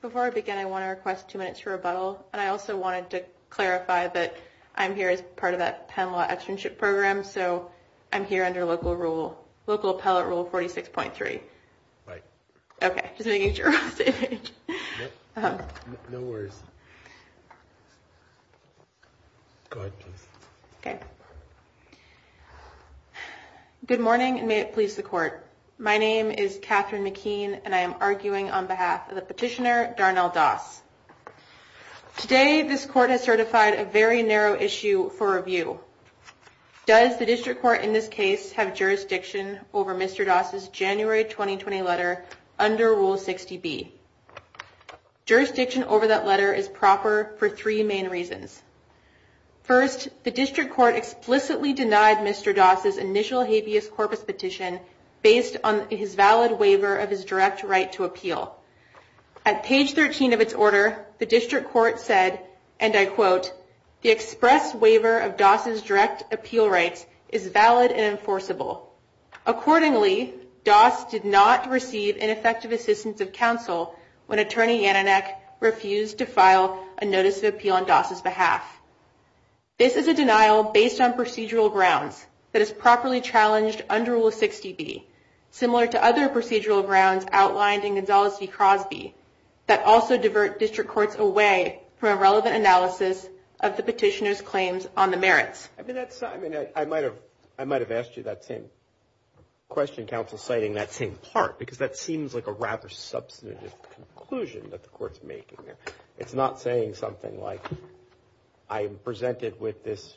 Before I begin, I want to request two minutes for rebuttal, and I also wanted to clarify that I'm here as part of that Penn Law Externship Program, so I'm here under local rule, local appellate rule 46.3. Right. Okay, just making sure we're on stage. No worries. Go ahead, please. Okay. Good morning, and may it please the court. My name is Catherine McKean, and I am arguing on behalf of the petitioner, Darnell Doss. Today this court has certified a very narrow issue for review. Does the district court in this case have jurisdiction over Mr. Doss' January 2020 letter under Rule 60B? Jurisdiction over that letter is proper for three main reasons. First, the district court explicitly denied Mr. Doss' initial habeas corpus petition based on his valid waiver of his direct right to appeal. At page 13 of its order, the district court said, and I quote, the express waiver of Doss' direct appeal rights is valid and enforceable. Accordingly, Doss did not receive ineffective assistance of counsel when Attorney Yananeck refused to file a notice of appeal on Doss' behalf. This is a denial based on procedural grounds that is properly challenged under Rule 60B, similar to other procedural grounds outlined in Gonzales v. Crosby, that also divert district courts away from a relevant analysis of the petitioner's claims on the merits. I mean, I might have asked you that same question, counsel, citing that same part, because that It's not saying something like, I am presented with this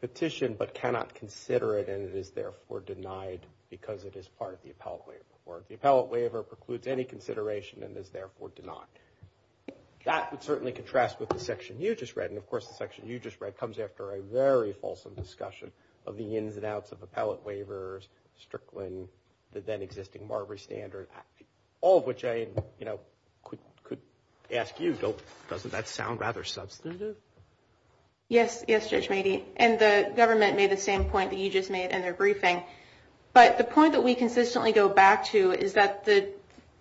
petition but cannot consider it and it is therefore denied because it is part of the appellate waiver, or the appellate waiver precludes any consideration and is therefore denied. That would certainly contrast with the section you just read, and of course the section you just read comes after a very fulsome discussion of the ins and outs of appellate waivers, Strickland, the then existing Marbury standard, all of which I could ask you, doesn't that sound rather substantive? Yes, Judge Meade, and the government made the same point that you just made in their briefing, but the point that we consistently go back to is that the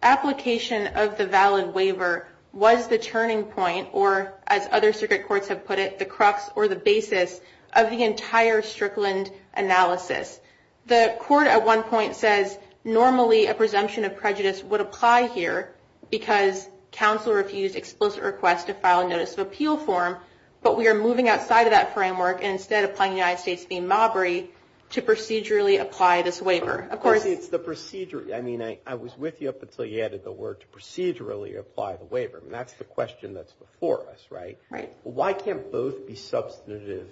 application of the valid waiver was the turning point, or as other circuit courts have put it, the crux or the basis of the entire Strickland analysis. The court at one point says normally a presumption of prejudice would apply here because counsel refused explicit request to file a notice of appeal form, but we are moving outside of that framework and instead applying the United States v. Marbury to procedurally apply this waiver. Of course it's the procedure, I mean I was with you up until you added the word to procedurally apply the waiver, and that's the question that's before us, right? Why can't both be substantive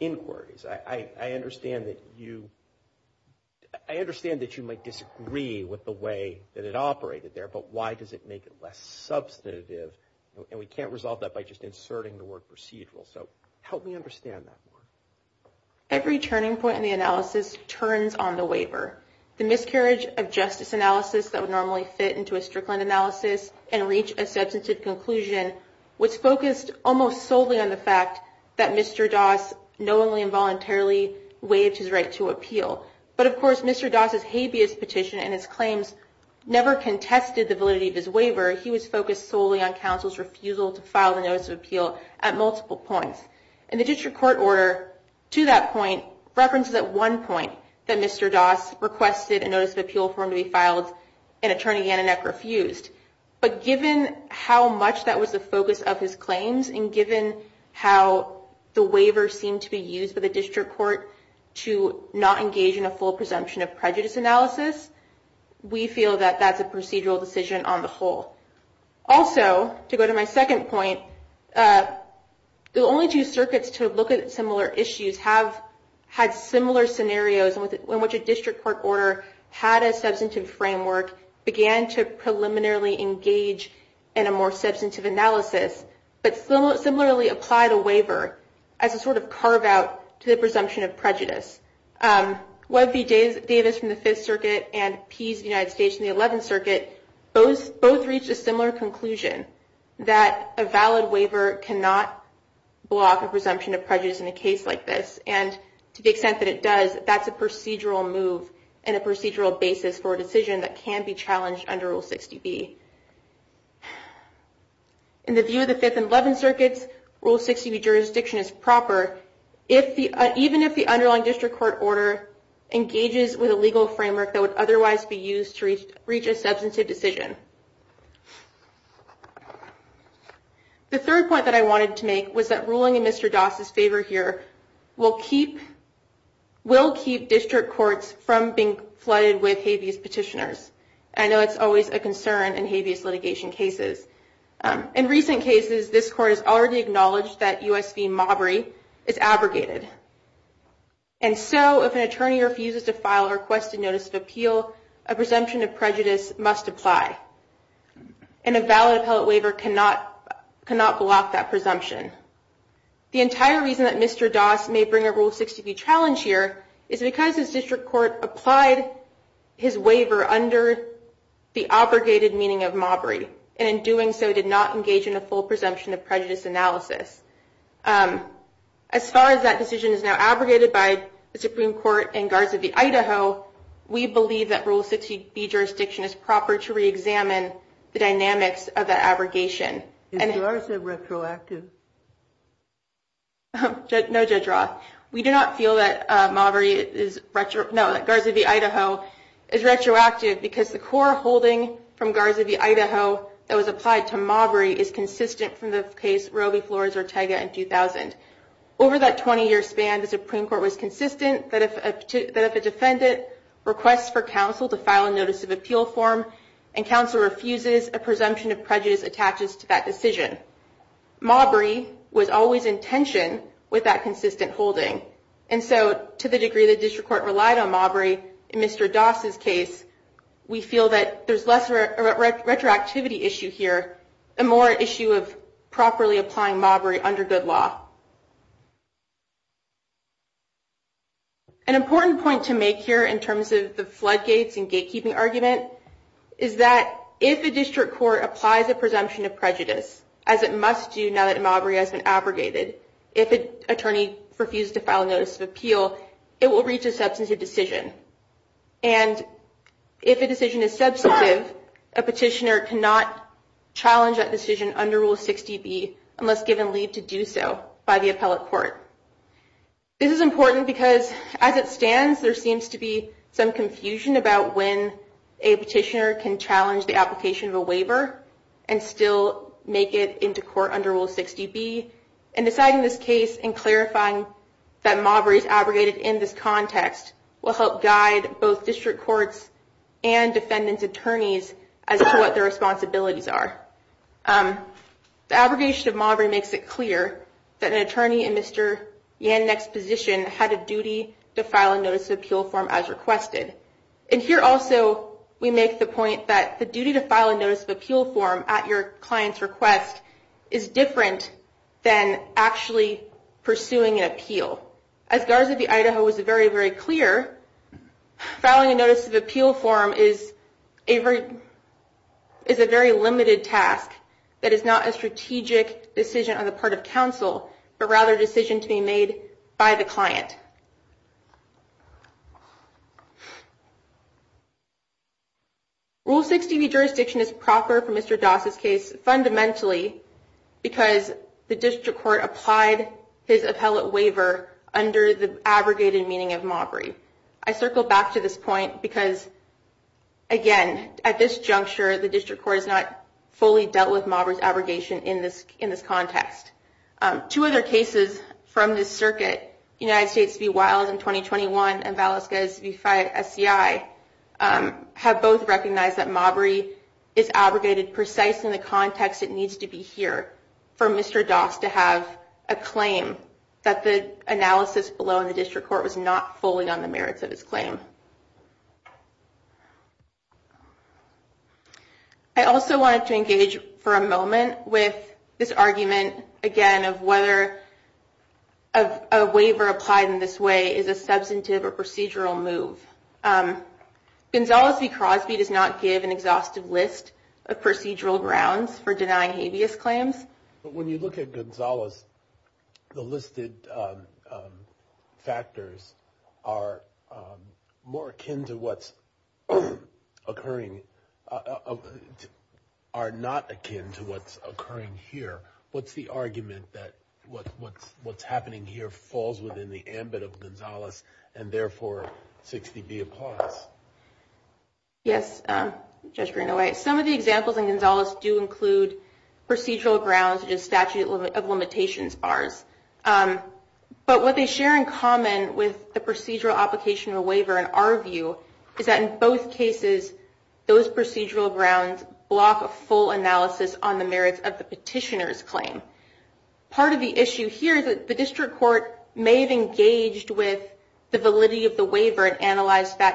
inquiries? I understand that you might disagree with the way that it operated there, but why does it make it less substantive, and we can't resolve that by just inserting the word procedural, so help me understand that more. Every turning point in the analysis turns on the waiver. The miscarriage of justice analysis that would normally fit into a Strickland analysis and reach a substantive conclusion was focused almost solely on the fact that Mr. Doss knowingly and voluntarily waived his right to appeal, but of course Mr. Doss' habeas petition and his claims never contested the validity of his waiver. He was focused solely on counsel's refusal to file the notice of appeal at multiple points, and the district court order to that point references at one point that Mr. Doss requested a notice of appeal form to be filed and Attorney Yannoneck refused, but given how much that the district court to not engage in a full presumption of prejudice analysis, we feel that that's a procedural decision on the whole. Also, to go to my second point, the only two circuits to look at similar issues have had similar scenarios in which a district court order had a substantive framework, began to preliminarily engage in a more substantive analysis, but similarly applied a waiver as a sort of carve out to the presumption of prejudice. Webb v. Davis from the 5th Circuit and Pease of the United States in the 11th Circuit both reached a similar conclusion, that a valid waiver cannot block a presumption of prejudice in a case like this, and to the extent that it does, that's a procedural move and a procedural basis for a decision that can be challenged under Rule 60B. In the view of the 5th and 11th Circuits, Rule 60B jurisdiction is proper, even if the underlying district court order engages with a legal framework that would otherwise be used to reach a substantive decision. The third point that I wanted to make was that ruling in Mr. Doss' favor here will keep district courts from being flooded with habeas petitioners. I know it's always a concern in habeas litigation cases. In recent cases, this court has already acknowledged that U.S. v. Maubry is abrogated, and so if an attorney refuses to file a requested notice of appeal, a presumption of prejudice must apply, and a valid appellate waiver cannot block that presumption. The entire reason that Mr. Doss may bring a Rule 60B challenge here is because his district court applied his waiver under the abrogated meaning of Maubry, and in doing so did not engage in a full presumption of prejudice analysis. As far as that decision is now abrogated by the Supreme Court and Guards of the Idaho, we believe that Rule 60B jurisdiction is proper to reexamine the dynamics of that abrogation. And... Judge Roth. No, Judge Roth. We do not feel that Guards of the Idaho is retroactive because the core holding from Guards of the Idaho that was applied to Maubry is consistent from the case Roe v. Flores-Ortega in 2000. Over that 20-year span, the Supreme Court was consistent that if a defendant requests for counsel to file a notice of appeal form and counsel refuses, a presumption of prejudice attaches to that decision. Maubry was always in tension with that consistent holding, and so to the degree the district court relied on Maubry in Mr. Doss' case, we feel that there's less of a retroactivity issue here and more an issue of properly applying Maubry under good law. An important point to make here in terms of the floodgates and gatekeeping argument is that if a district court applies a presumption of prejudice, as it must do now that Maubry has been abrogated, if an attorney refuses to file a notice of appeal, it will reach a substantive decision. And if a decision is substantive, a petitioner cannot challenge that decision under Rule 60B unless given leave to do so by the appellate court. This is important because as it stands, there seems to be some confusion about when a petitioner can challenge the application of a waiver and still make it into court under Rule 60B, and deciding this case and clarifying that Maubry is abrogated in this context will help guide both district courts and defendant's attorneys as to what their responsibilities are. The abrogation of Maubry makes it clear that an attorney in Mr. Yannick's position had a duty to file a notice of appeal form as requested. And here also we make the point that the duty to file a notice of appeal form at your client's request is different than actually pursuing an appeal. As Garza v. Idaho was very, very clear, filing a notice of appeal form is a very limited task that is not a strategic decision on the part of counsel, but rather a decision to be made by the client. Rule 60B jurisdiction is proper for Mr. Doss' case fundamentally because the district court applied his appellate waiver under the abrogated meaning of Maubry. I circle back to this point because, again, at this juncture the district court has not fully dealt with Maubry's abrogation in this context. Two other cases from this circuit, United States v. Wiles in 2021 and Valeska v. SCI, have both recognized that Maubry is abrogated precisely in the context it needs to be here for Mr. Doss to have a claim that the analysis below in the district court was not fully on the merits of his claim. I also wanted to engage for a moment with this argument, again, of whether a waiver applied in this way is a substantive or procedural move. Gonzales v. Crosby does not give an exhaustive list of procedural grounds for denying habeas claims. When you look at Gonzales, the listed factors are more akin to what's occurring, are not akin to what's occurring here. What's the argument that what's happening here falls within the ambit of Gonzales and therefore 60B applies? Yes, Judge Greenaway, some of the examples in Gonzales do include procedural grounds such as statute of limitations bars, but what they share in common with the procedural application of a waiver in our view is that in both cases those procedural grounds block a full analysis on the merits of the petitioner's claim. Part of the issue here is that the district court may have engaged with the validity of the petitioner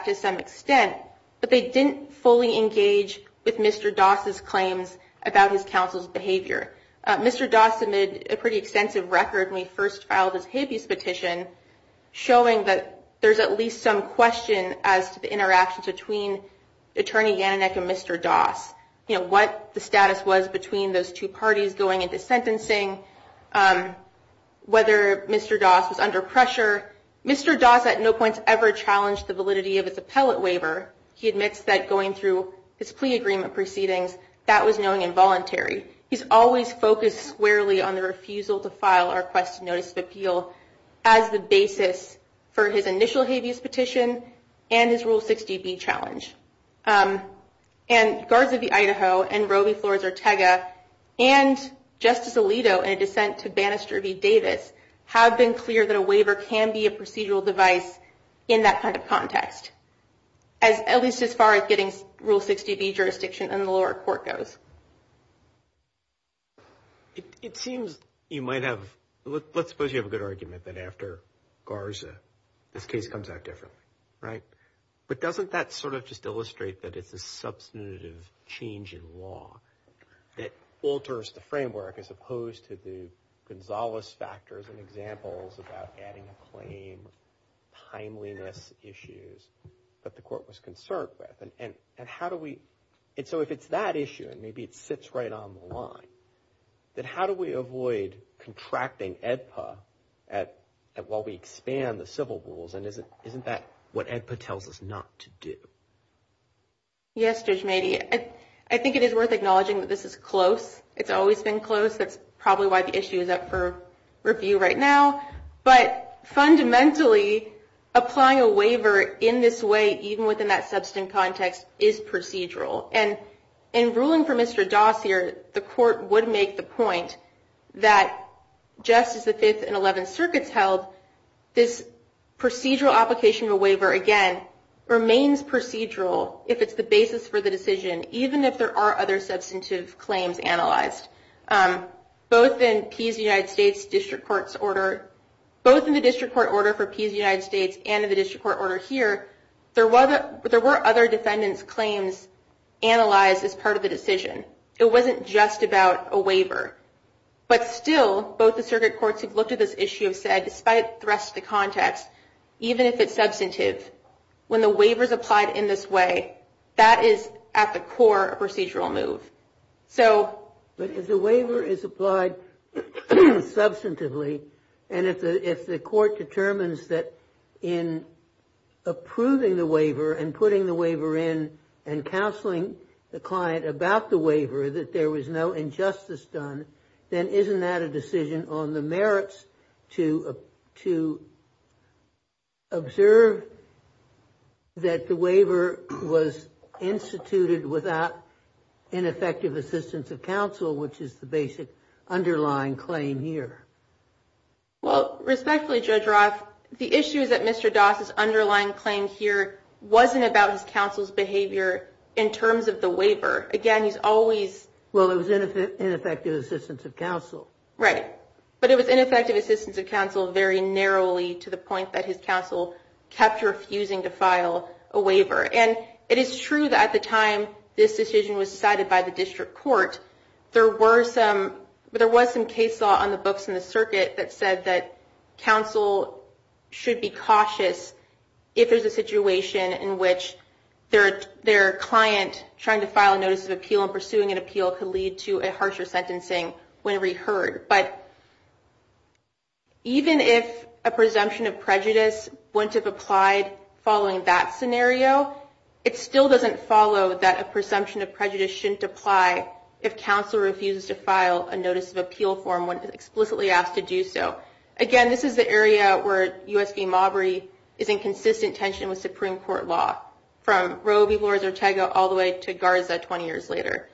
to some extent, but they didn't fully engage with Mr. Doss's claims about his counsel's behavior. Mr. Doss submitted a pretty extensive record when he first filed his habeas petition, showing that there's at least some question as to the interactions between Attorney Yananick and Mr. Doss, what the status was between those two parties going into sentencing, whether Mr. Doss was under pressure. Mr. Doss at no point ever challenged the validity of his appellate waiver. He admits that going through his plea agreement proceedings, that was knowing and voluntary. He's always focused squarely on the refusal to file or requested notice of appeal as the basis for his initial habeas petition and his Rule 60B challenge. And Guards of the Idaho and Roe v. Flores Ortega and Justice Alito in a dissent to Bannister v. Davis have been clear that a waiver can be a procedural device in that kind of context, at least as far as getting Rule 60B jurisdiction in the lower court goes. It seems you might have, let's suppose you have a good argument that after Garza this case comes out that it's a substantive change in law that alters the framework as opposed to the Gonzales factors and examples about adding a claim, timeliness issues that the court was concerned with. And how do we, so if it's that issue and maybe it sits right on the line, then how do we avoid contracting AEDPA while we expand the civil rules? And isn't that what AEDPA tells us not to do? Yes, Judge Mady. I think it is worth acknowledging that this is close. It's always been close. That's probably why the issue is up for review right now. But fundamentally, applying a waiver in this way, even within that substantive context, is procedural. And in ruling for Mr. Dossier, the court would make the point that just as the Fifth and the procedural application of a waiver, again, remains procedural if it's the basis for the decision, even if there are other substantive claims analyzed. Both in the District Court order for Pease United States and in the District Court order here, there were other defendants' claims analyzed as part of the decision. It wasn't just about a waiver. But still, both the circuit courts who've looked at this issue have said, despite the rest of the context, even if it's substantive, when the waiver is applied in this way, that is, at the core, a procedural move. But if the waiver is applied substantively, and if the court determines that in approving the waiver and putting the waiver in and counseling the client about the waiver that there was no injustice done, then isn't that a decision on the merits to observe that the waiver was instituted without ineffective assistance of counsel, which is the basic underlying claim here? Well, respectfully, Judge Roth, the issue is that Mr. Doss's underlying claim here wasn't about his counsel's behavior in terms of the waiver. Again, he's always... Well, it was ineffective assistance of counsel. Right. But it was ineffective assistance of counsel very narrowly to the point that his counsel kept refusing to file a waiver. And it is true that at the time this decision was decided by the District Court, there was some case law on the books in the circuit that said that counsel should be cautious if there's a situation in which their client trying to file a notice of appeal and pursuing an appeal could lead to a harsher sentencing whenever he heard. But even if a presumption of prejudice wouldn't have applied following that scenario, it still doesn't follow that a presumption of prejudice shouldn't apply if counsel refuses to file a notice of appeal form when explicitly asked to do so. Again, this is the area where U.S. v. Marbury is in consistent tension with Supreme Court law, from Roe v. Lourdes Ortega all the way to Garza 20 years later.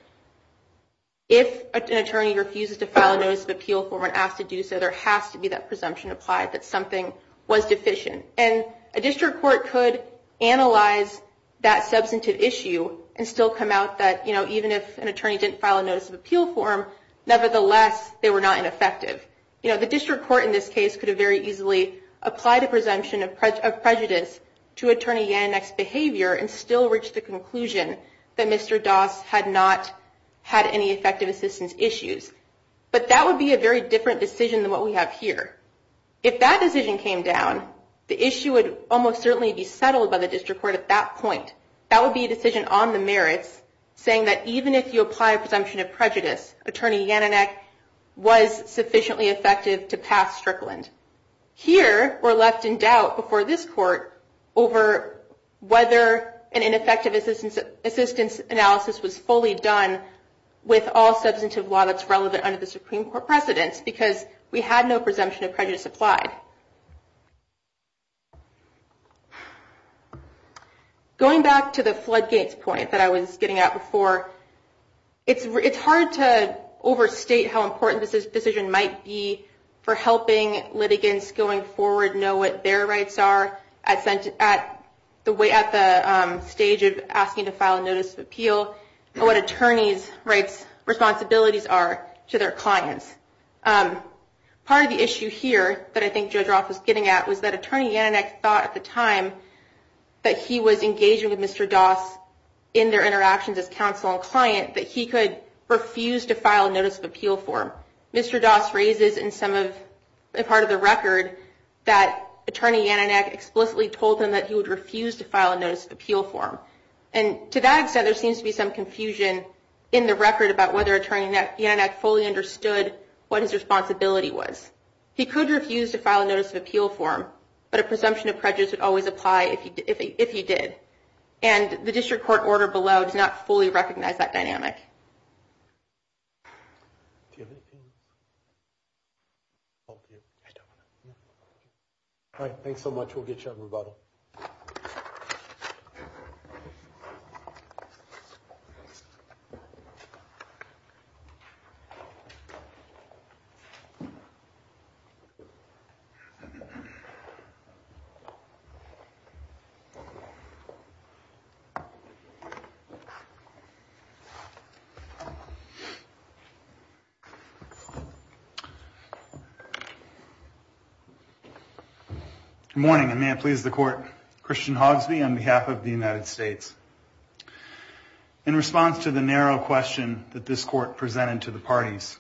If an attorney refuses to file a notice of appeal form when asked to do so, there has to be that presumption applied that something was deficient. And a District Court could analyze that substantive issue and still come out that, you know, the District Court in this case could have very easily applied a presumption of prejudice to Attorney Yannonek's behavior and still reach the conclusion that Mr. Doss had not had any effective assistance issues. But that would be a very different decision than what we have here. If that decision came down, the issue would almost certainly be settled by the District Court at that point. That would be a decision on the merits saying that even if you apply a presumption of prejudice, Attorney Yannonek was sufficiently effective to pass Strickland. Here, we're left in doubt before this Court over whether an ineffective assistance analysis was fully done with all substantive law that's relevant under the Supreme Court precedence because we had no presumption of prejudice applied. Going back to the floodgates point that I was getting at before, it's hard to overstate how important this decision might be for helping litigants going forward know what their rights are at the stage of asking to file a notice of appeal and what attorneys' rights, responsibilities are to their clients. Part of the issue here that I think Judge Roth was getting at was that Attorney Yannonek thought at the time that he was engaging with Mr. Doss in their interactions as counsel and client that he could refuse to file a notice of appeal for him. Mr. Doss raises in part of the record that Attorney Yannonek explicitly told him that he would refuse to file a notice of appeal for him. And to that extent, there seems to be some confusion in the record about whether Attorney Yannonek fully understood what his responsibility was. He could refuse to file a notice of appeal for him, but a presumption of prejudice would always apply if he did. And the district court order below does not fully recognize that dynamic. All right. Thanks so much. We'll get you a rebuttal. Good morning, and may it please the court. Christian Hogsby on behalf of the United States. In response to the narrow question that this court presented to the parties,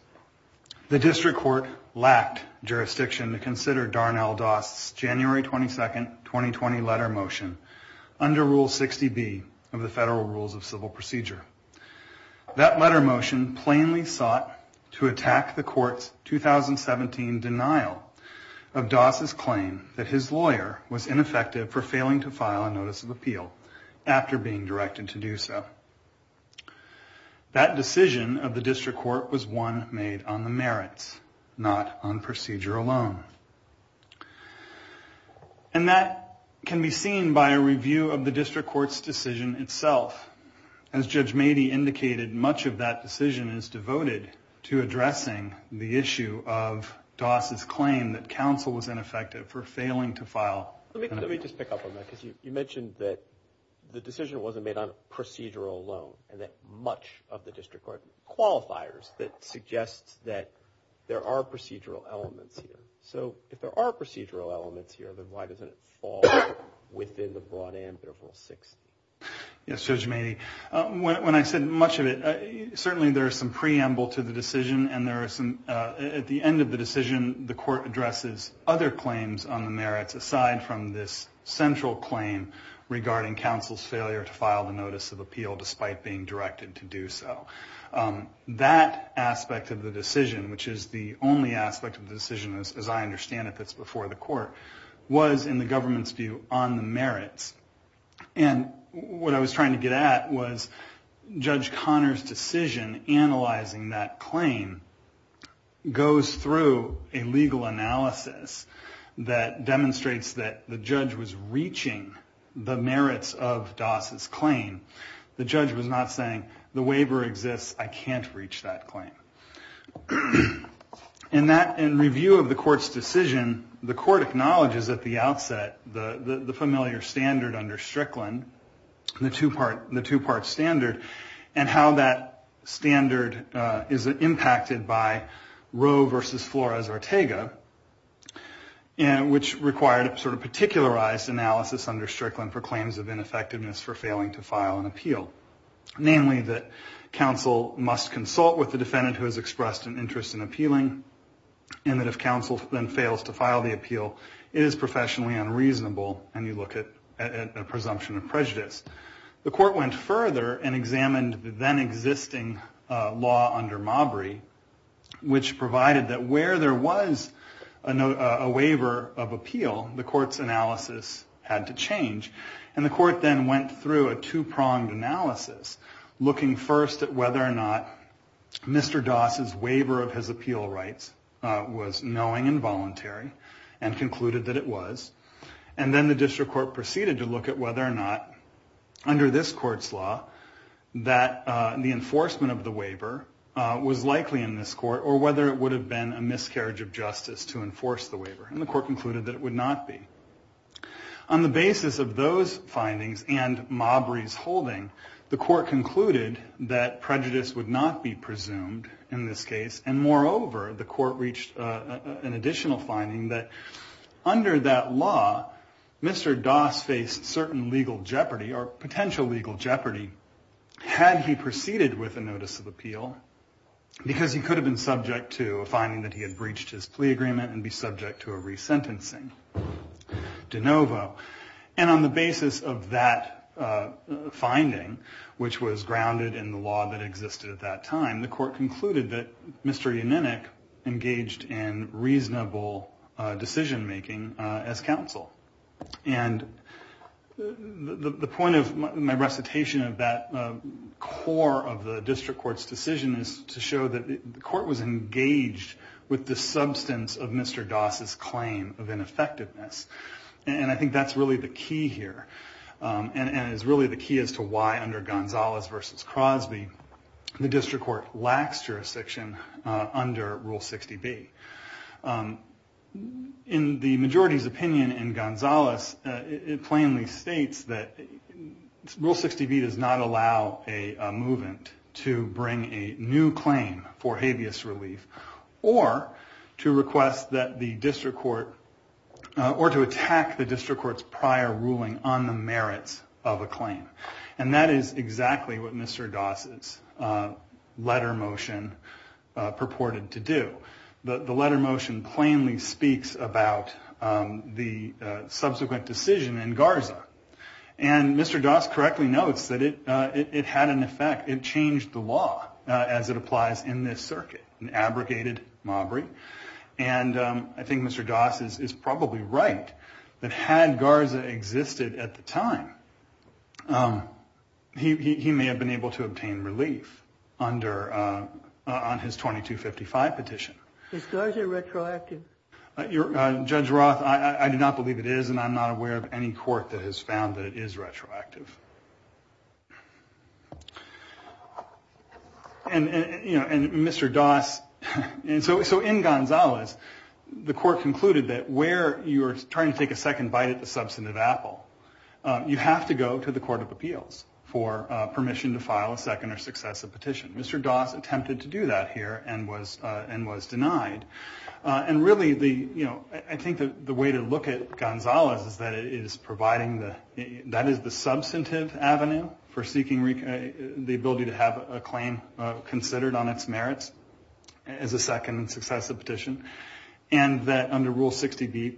the district court lacked jurisdiction to consider Darnell Doss' January 22, 2020 letter motion under Rule 60B of the Federal Rules of Civil Procedure. That letter motion plainly sought to attack the court's 2017 denial of Doss' claim that his lawyer was ineffective for failing to file a notice of appeal after being directed to do so. That decision of the district court was one made on the merits, not on procedure alone. And that can be seen by a review of the district court's decision itself. As Judge Mady indicated, much of that decision is devoted to addressing the issue of Doss' claim that counsel was ineffective for failing to file an appeal. Let me just pick up on that because you mentioned that the decision wasn't made on a procedural loan and that much of the district court qualifiers that suggests that there are procedural elements here. So if there are procedural elements here, then why doesn't it fall within the broad ambit of Rule 60? Yes, Judge Mady. When I said much of it, certainly there is some preamble to the decision and at the end of the decision, the court addresses other claims on the merits aside from this central claim regarding counsel's failure to file the notice of appeal despite being directed to do so. That aspect of the decision, which is the only aspect of the decision as I understand it that's before the court, was, in the government's view, on the merits. And what I was trying to get at was Judge Conner's decision analyzing that claim goes through a legal analysis that demonstrates that the judge was reaching the merits of Doss' claim. The judge was not saying, the waiver exists, I can't reach that claim. In review of the court's decision, the court acknowledges at the outset the familiar standard under Strickland, the two-part standard, and how that standard is impacted by Roe versus Flores-Ortega, which required a particularized analysis under Strickland for claims of ineffectiveness for failing to file an appeal. Namely, that counsel must consult with the defendant who has expressed an interest in appealing, and that if counsel then fails to file the appeal, it is professionally unreasonable, and you look at a presumption of prejudice. The court went further and examined the then-existing law under Mabry, which provided that where there was a waiver of appeal, the court's analysis had to change. And the court then went through a two-pronged analysis, looking first at whether or not Mr. Doss' waiver of his appeal rights was knowing and voluntary, and concluded that it was, and then the district court proceeded to look at whether or not, under this court's law, that the enforcement of the waiver was likely in this court, or whether it would have been a miscarriage of justice to enforce the waiver. And the court concluded that it would not be. On the basis of those findings and Mabry's holding, the court concluded that prejudice would not be presumed in this case, and moreover, the court reached an additional finding that under that law, Mr. Doss faced certain legal jeopardy, or potential legal jeopardy, had he proceeded with a notice of appeal, because he could have been subject to a finding that he had breached his plea agreement and be subject to a resentencing de novo. And on the basis of that finding, which was grounded in the law that existed at that time, the court concluded that Mr. Yaninik engaged in reasonable decision-making as counsel. And the point of my recitation of that core of the district court's decision is to show that the court was engaged with the substance of Mr. Doss' claim of ineffectiveness. And I think that's really the key here, and is really the key as to why, under Gonzalez v. Crosby, the district court lacks jurisdiction under Rule 60B. In the majority's opinion in Gonzalez, it plainly states that Rule 60B does not allow a movement to bring a new claim for habeas relief, or to attack the district court's prior ruling on the merits of a claim. And that is exactly what Mr. Doss' letter motion purported to do. The letter motion plainly speaks about the subsequent decision in Garza. And Mr. Doss correctly notes that it had an effect. It changed the law as it applies in this circuit, an abrogated mobbery. And I think Mr. Doss is probably right that had Garza existed at the time, he may have been able to obtain relief on his 2255 petition. Why is it retroactive? Judge Roth, I do not believe it is, and I'm not aware of any court that has found that it is retroactive. So in Gonzalez, the court concluded that where you're trying to take a second bite at the substance of Apple, you have to go to the Court of Appeals for permission to file a second or successive petition. Mr. Doss attempted to do that here and was denied. And really, I think the way to look at Gonzalez is that it is providing, that is the substantive avenue for seeking the ability to have a claim considered on its merits as a second or successive petition. And that under Rule 60B,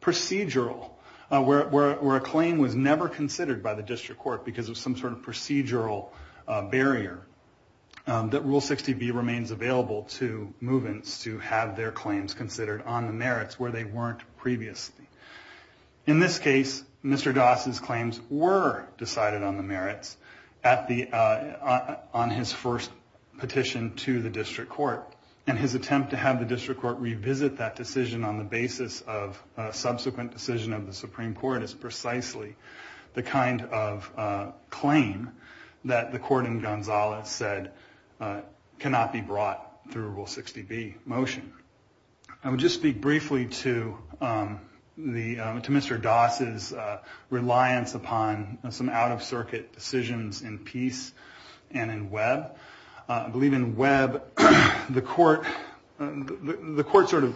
procedural, where a claim was never considered by the district court because of some sort of procedural barrier, that Rule 60B remains available to movements to have their claims considered on the merits where they weren't previously. In this case, Mr. Doss's claims were decided on the merits on his first petition to the district court. And his attempt to have the district court revisit that decision on the basis of a subsequent decision of the Supreme Court is precisely the kind of claim that the court in Gonzalez said, cannot be brought through Rule 60B motion. I would just speak briefly to Mr. Doss's reliance upon some out-of-circuit decisions in Peace and in Webb. I believe in Webb, the court sort of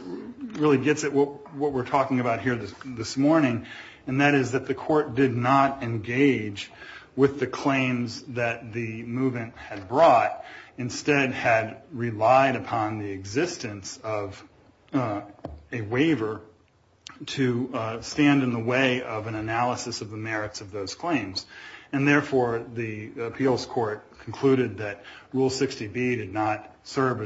really gets at what we're talking about here this morning, and that is that the court did not engage with the claims that the movement had brought, but instead had relied upon the existence of a waiver to stand in the way of an analysis of the merits of those claims. And therefore, the appeals court concluded that Rule 60B did not serve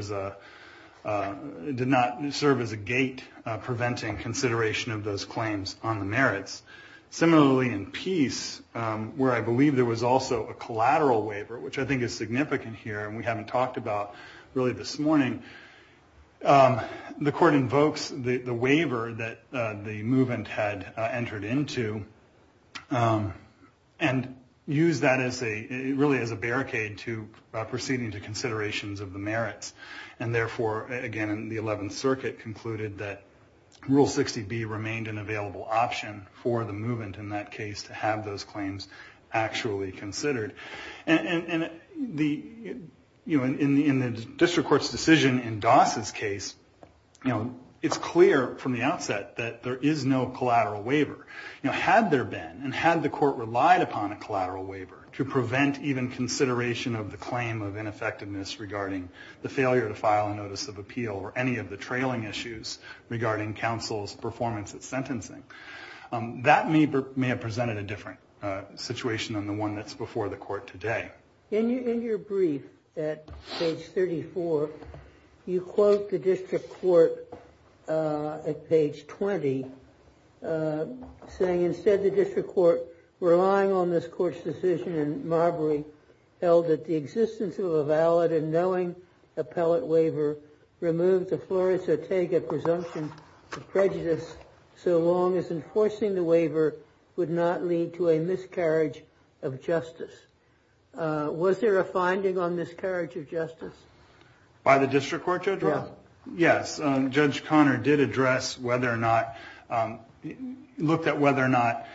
as a gate preventing consideration of those claims on the merits. Similarly, in Peace, where I believe there was also a collateral waiver, which I think is significant here, but I haven't talked about really this morning, the court invokes the waiver that the movement had entered into, and used that really as a barricade to proceeding to considerations of the merits. And therefore, again, the 11th Circuit concluded that Rule 60B remained an available option for the movement in that case to have those claims actually considered. In the district court's decision in Doss's case, it's clear from the outset that there is no collateral waiver. Had there been, and had the court relied upon a collateral waiver to prevent even consideration of the claim of ineffectiveness regarding the failure to file a notice of appeal or any of the trailing issues regarding counsel's performance at sentencing, that may have presented a different situation than the one that's before the court today. In your brief at page 34, you quote the district court at page 20, saying, instead, the district court, relying on this court's decision in Marbury, held that the existence of a valid and knowing appellate waiver removed the Flores-Otega presumption of prejudice so long as enforcing the waiver would not lead to a miscarriage of justice. Was there a finding on miscarriage of justice? By the district court, Judge? Yes. Judge Connor did address whether or not, looked at whether or not,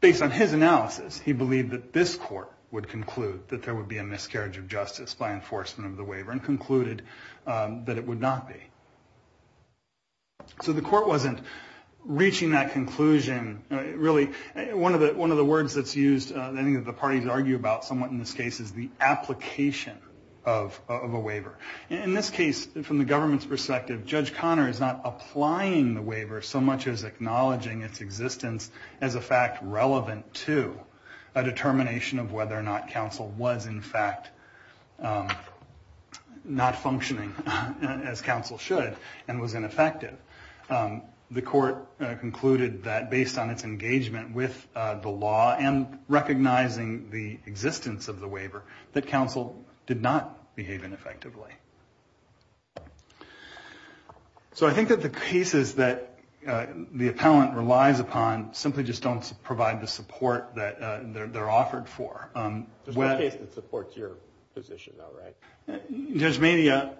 based on his analysis, he believed that this court would conclude that there would be a miscarriage of justice by enforcement of the waiver and concluded that it would not be. So the court wasn't reaching that conclusion. One of the words that's used, I think that the parties argue about somewhat in this case, is the application of a waiver. In this case, from the government's perspective, Judge Connor is not applying the waiver so much as acknowledging its existence as a fact relevant to a determination of whether or not counsel was, in fact, not functioning as counsel should and was ineffective. The court concluded that based on its engagement with the law and recognizing the existence of the waiver, that counsel did not behave ineffectively. So I think that the cases that the appellant relies upon simply just don't provide the support that they're offered for. There's no case that supports your position, though, right? Judge Mayne,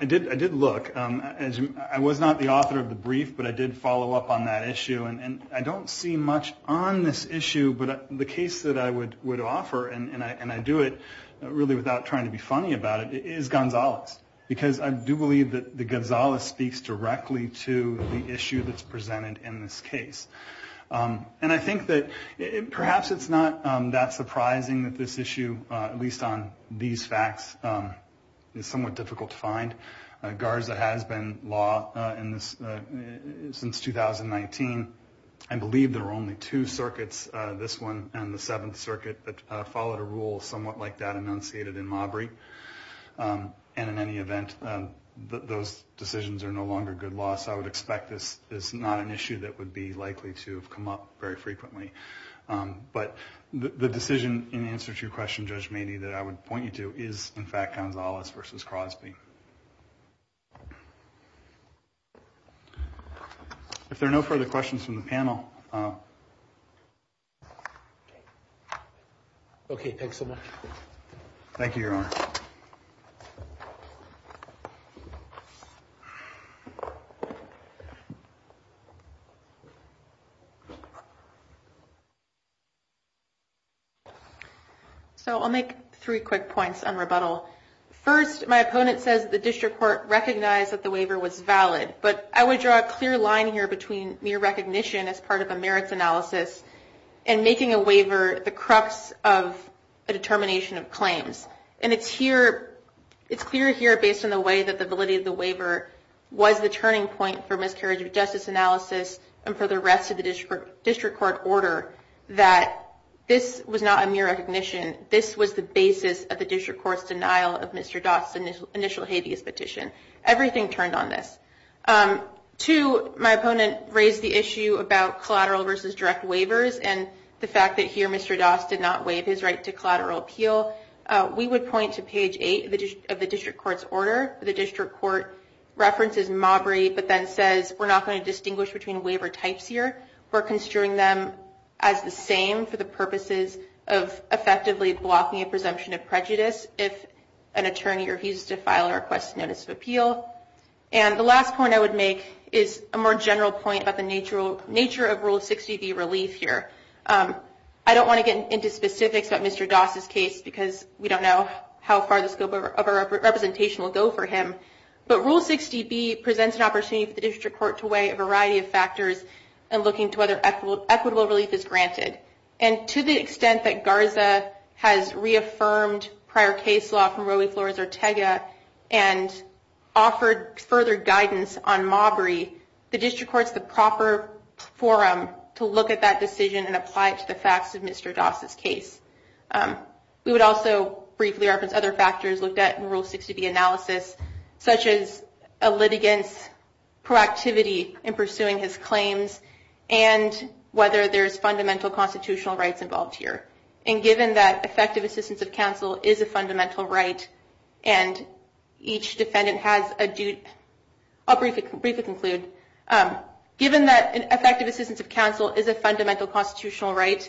I did look. I was not the author of the brief, but I did follow up on that issue. And I don't see much on this issue. But the case that I would offer, and I do it really without trying to be funny about it, is Gonzalez. Because I do believe that Gonzalez speaks directly to the issue that's presented in this case. And I think that perhaps it's not that surprising that this issue, at least on these facts, is somewhat difficult to find. Garza has been law since 2019. I believe there were only two circuits, this one and the Seventh Circuit, that followed a rule somewhat like that enunciated in Maubry. And in any event, those decisions are no longer good law. So I would expect this is not an issue that would be likely to have come up very frequently. But the decision in answer to your question, Judge Mayne, that I would point you to is, in fact, Gonzalez versus Crosby. If there are no further questions from the panel... Okay, thanks so much. So I'll make three quick points on rebuttal. First, my opponent says the district court recognized that the waiver was valid. But I would draw a clear line here between mere recognition as part of a merits analysis and making a waiver the crux of a determination of claims. And it's clear here, based on the way that the validity of the waiver was the turning point for miscarriage of justice analysis and for the rest of the district court order, that this was not a mere recognition. This was the basis of the district court's denial of Mr. Doss' initial habeas petition. Everything turned on this. Two, my opponent raised the issue about collateral versus direct waivers and the fact that here Mr. Doss did not waive his right to collateral appeal. We would point to page 8 of the district court's order. The district court references Mabry, but then says we're not going to distinguish between waiver types here. We're considering them as the same for the purposes of effectively blocking a presumption of prejudice if an attorney refuses to file a request notice of appeal. And the last point I would make is a more general point about the nature of Rule 60B relief here. I don't want to get into specifics about Mr. Doss' case, because we don't know how far the scope of our representation will go for him. But Rule 60B presents an opportunity for the district court to weigh a variety of factors in looking to whether equitable relief is granted. And to the extent that GARZA has reaffirmed prior case law from Roe v. Flores or Tega, and offered to the district court to weigh a variety of factors, and offered further guidance on Mabry, the district court is the proper forum to look at that decision and apply it to the facts of Mr. Doss' case. We would also briefly reference other factors looked at in Rule 60B analysis, such as a litigant's proactivity in pursuing his claims, and whether there's fundamental constitutional rights involved here. And given that effective assistance of counsel is a fundamental right, and each defendant has a due... I'll briefly conclude. Given that effective assistance of counsel is a fundamental constitutional right,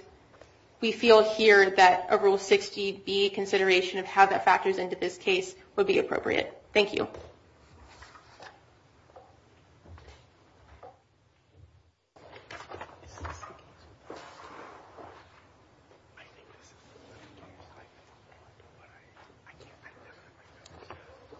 we feel here that a Rule 60B consideration of how that factors into this case would be appropriate. Thank you. Thank you.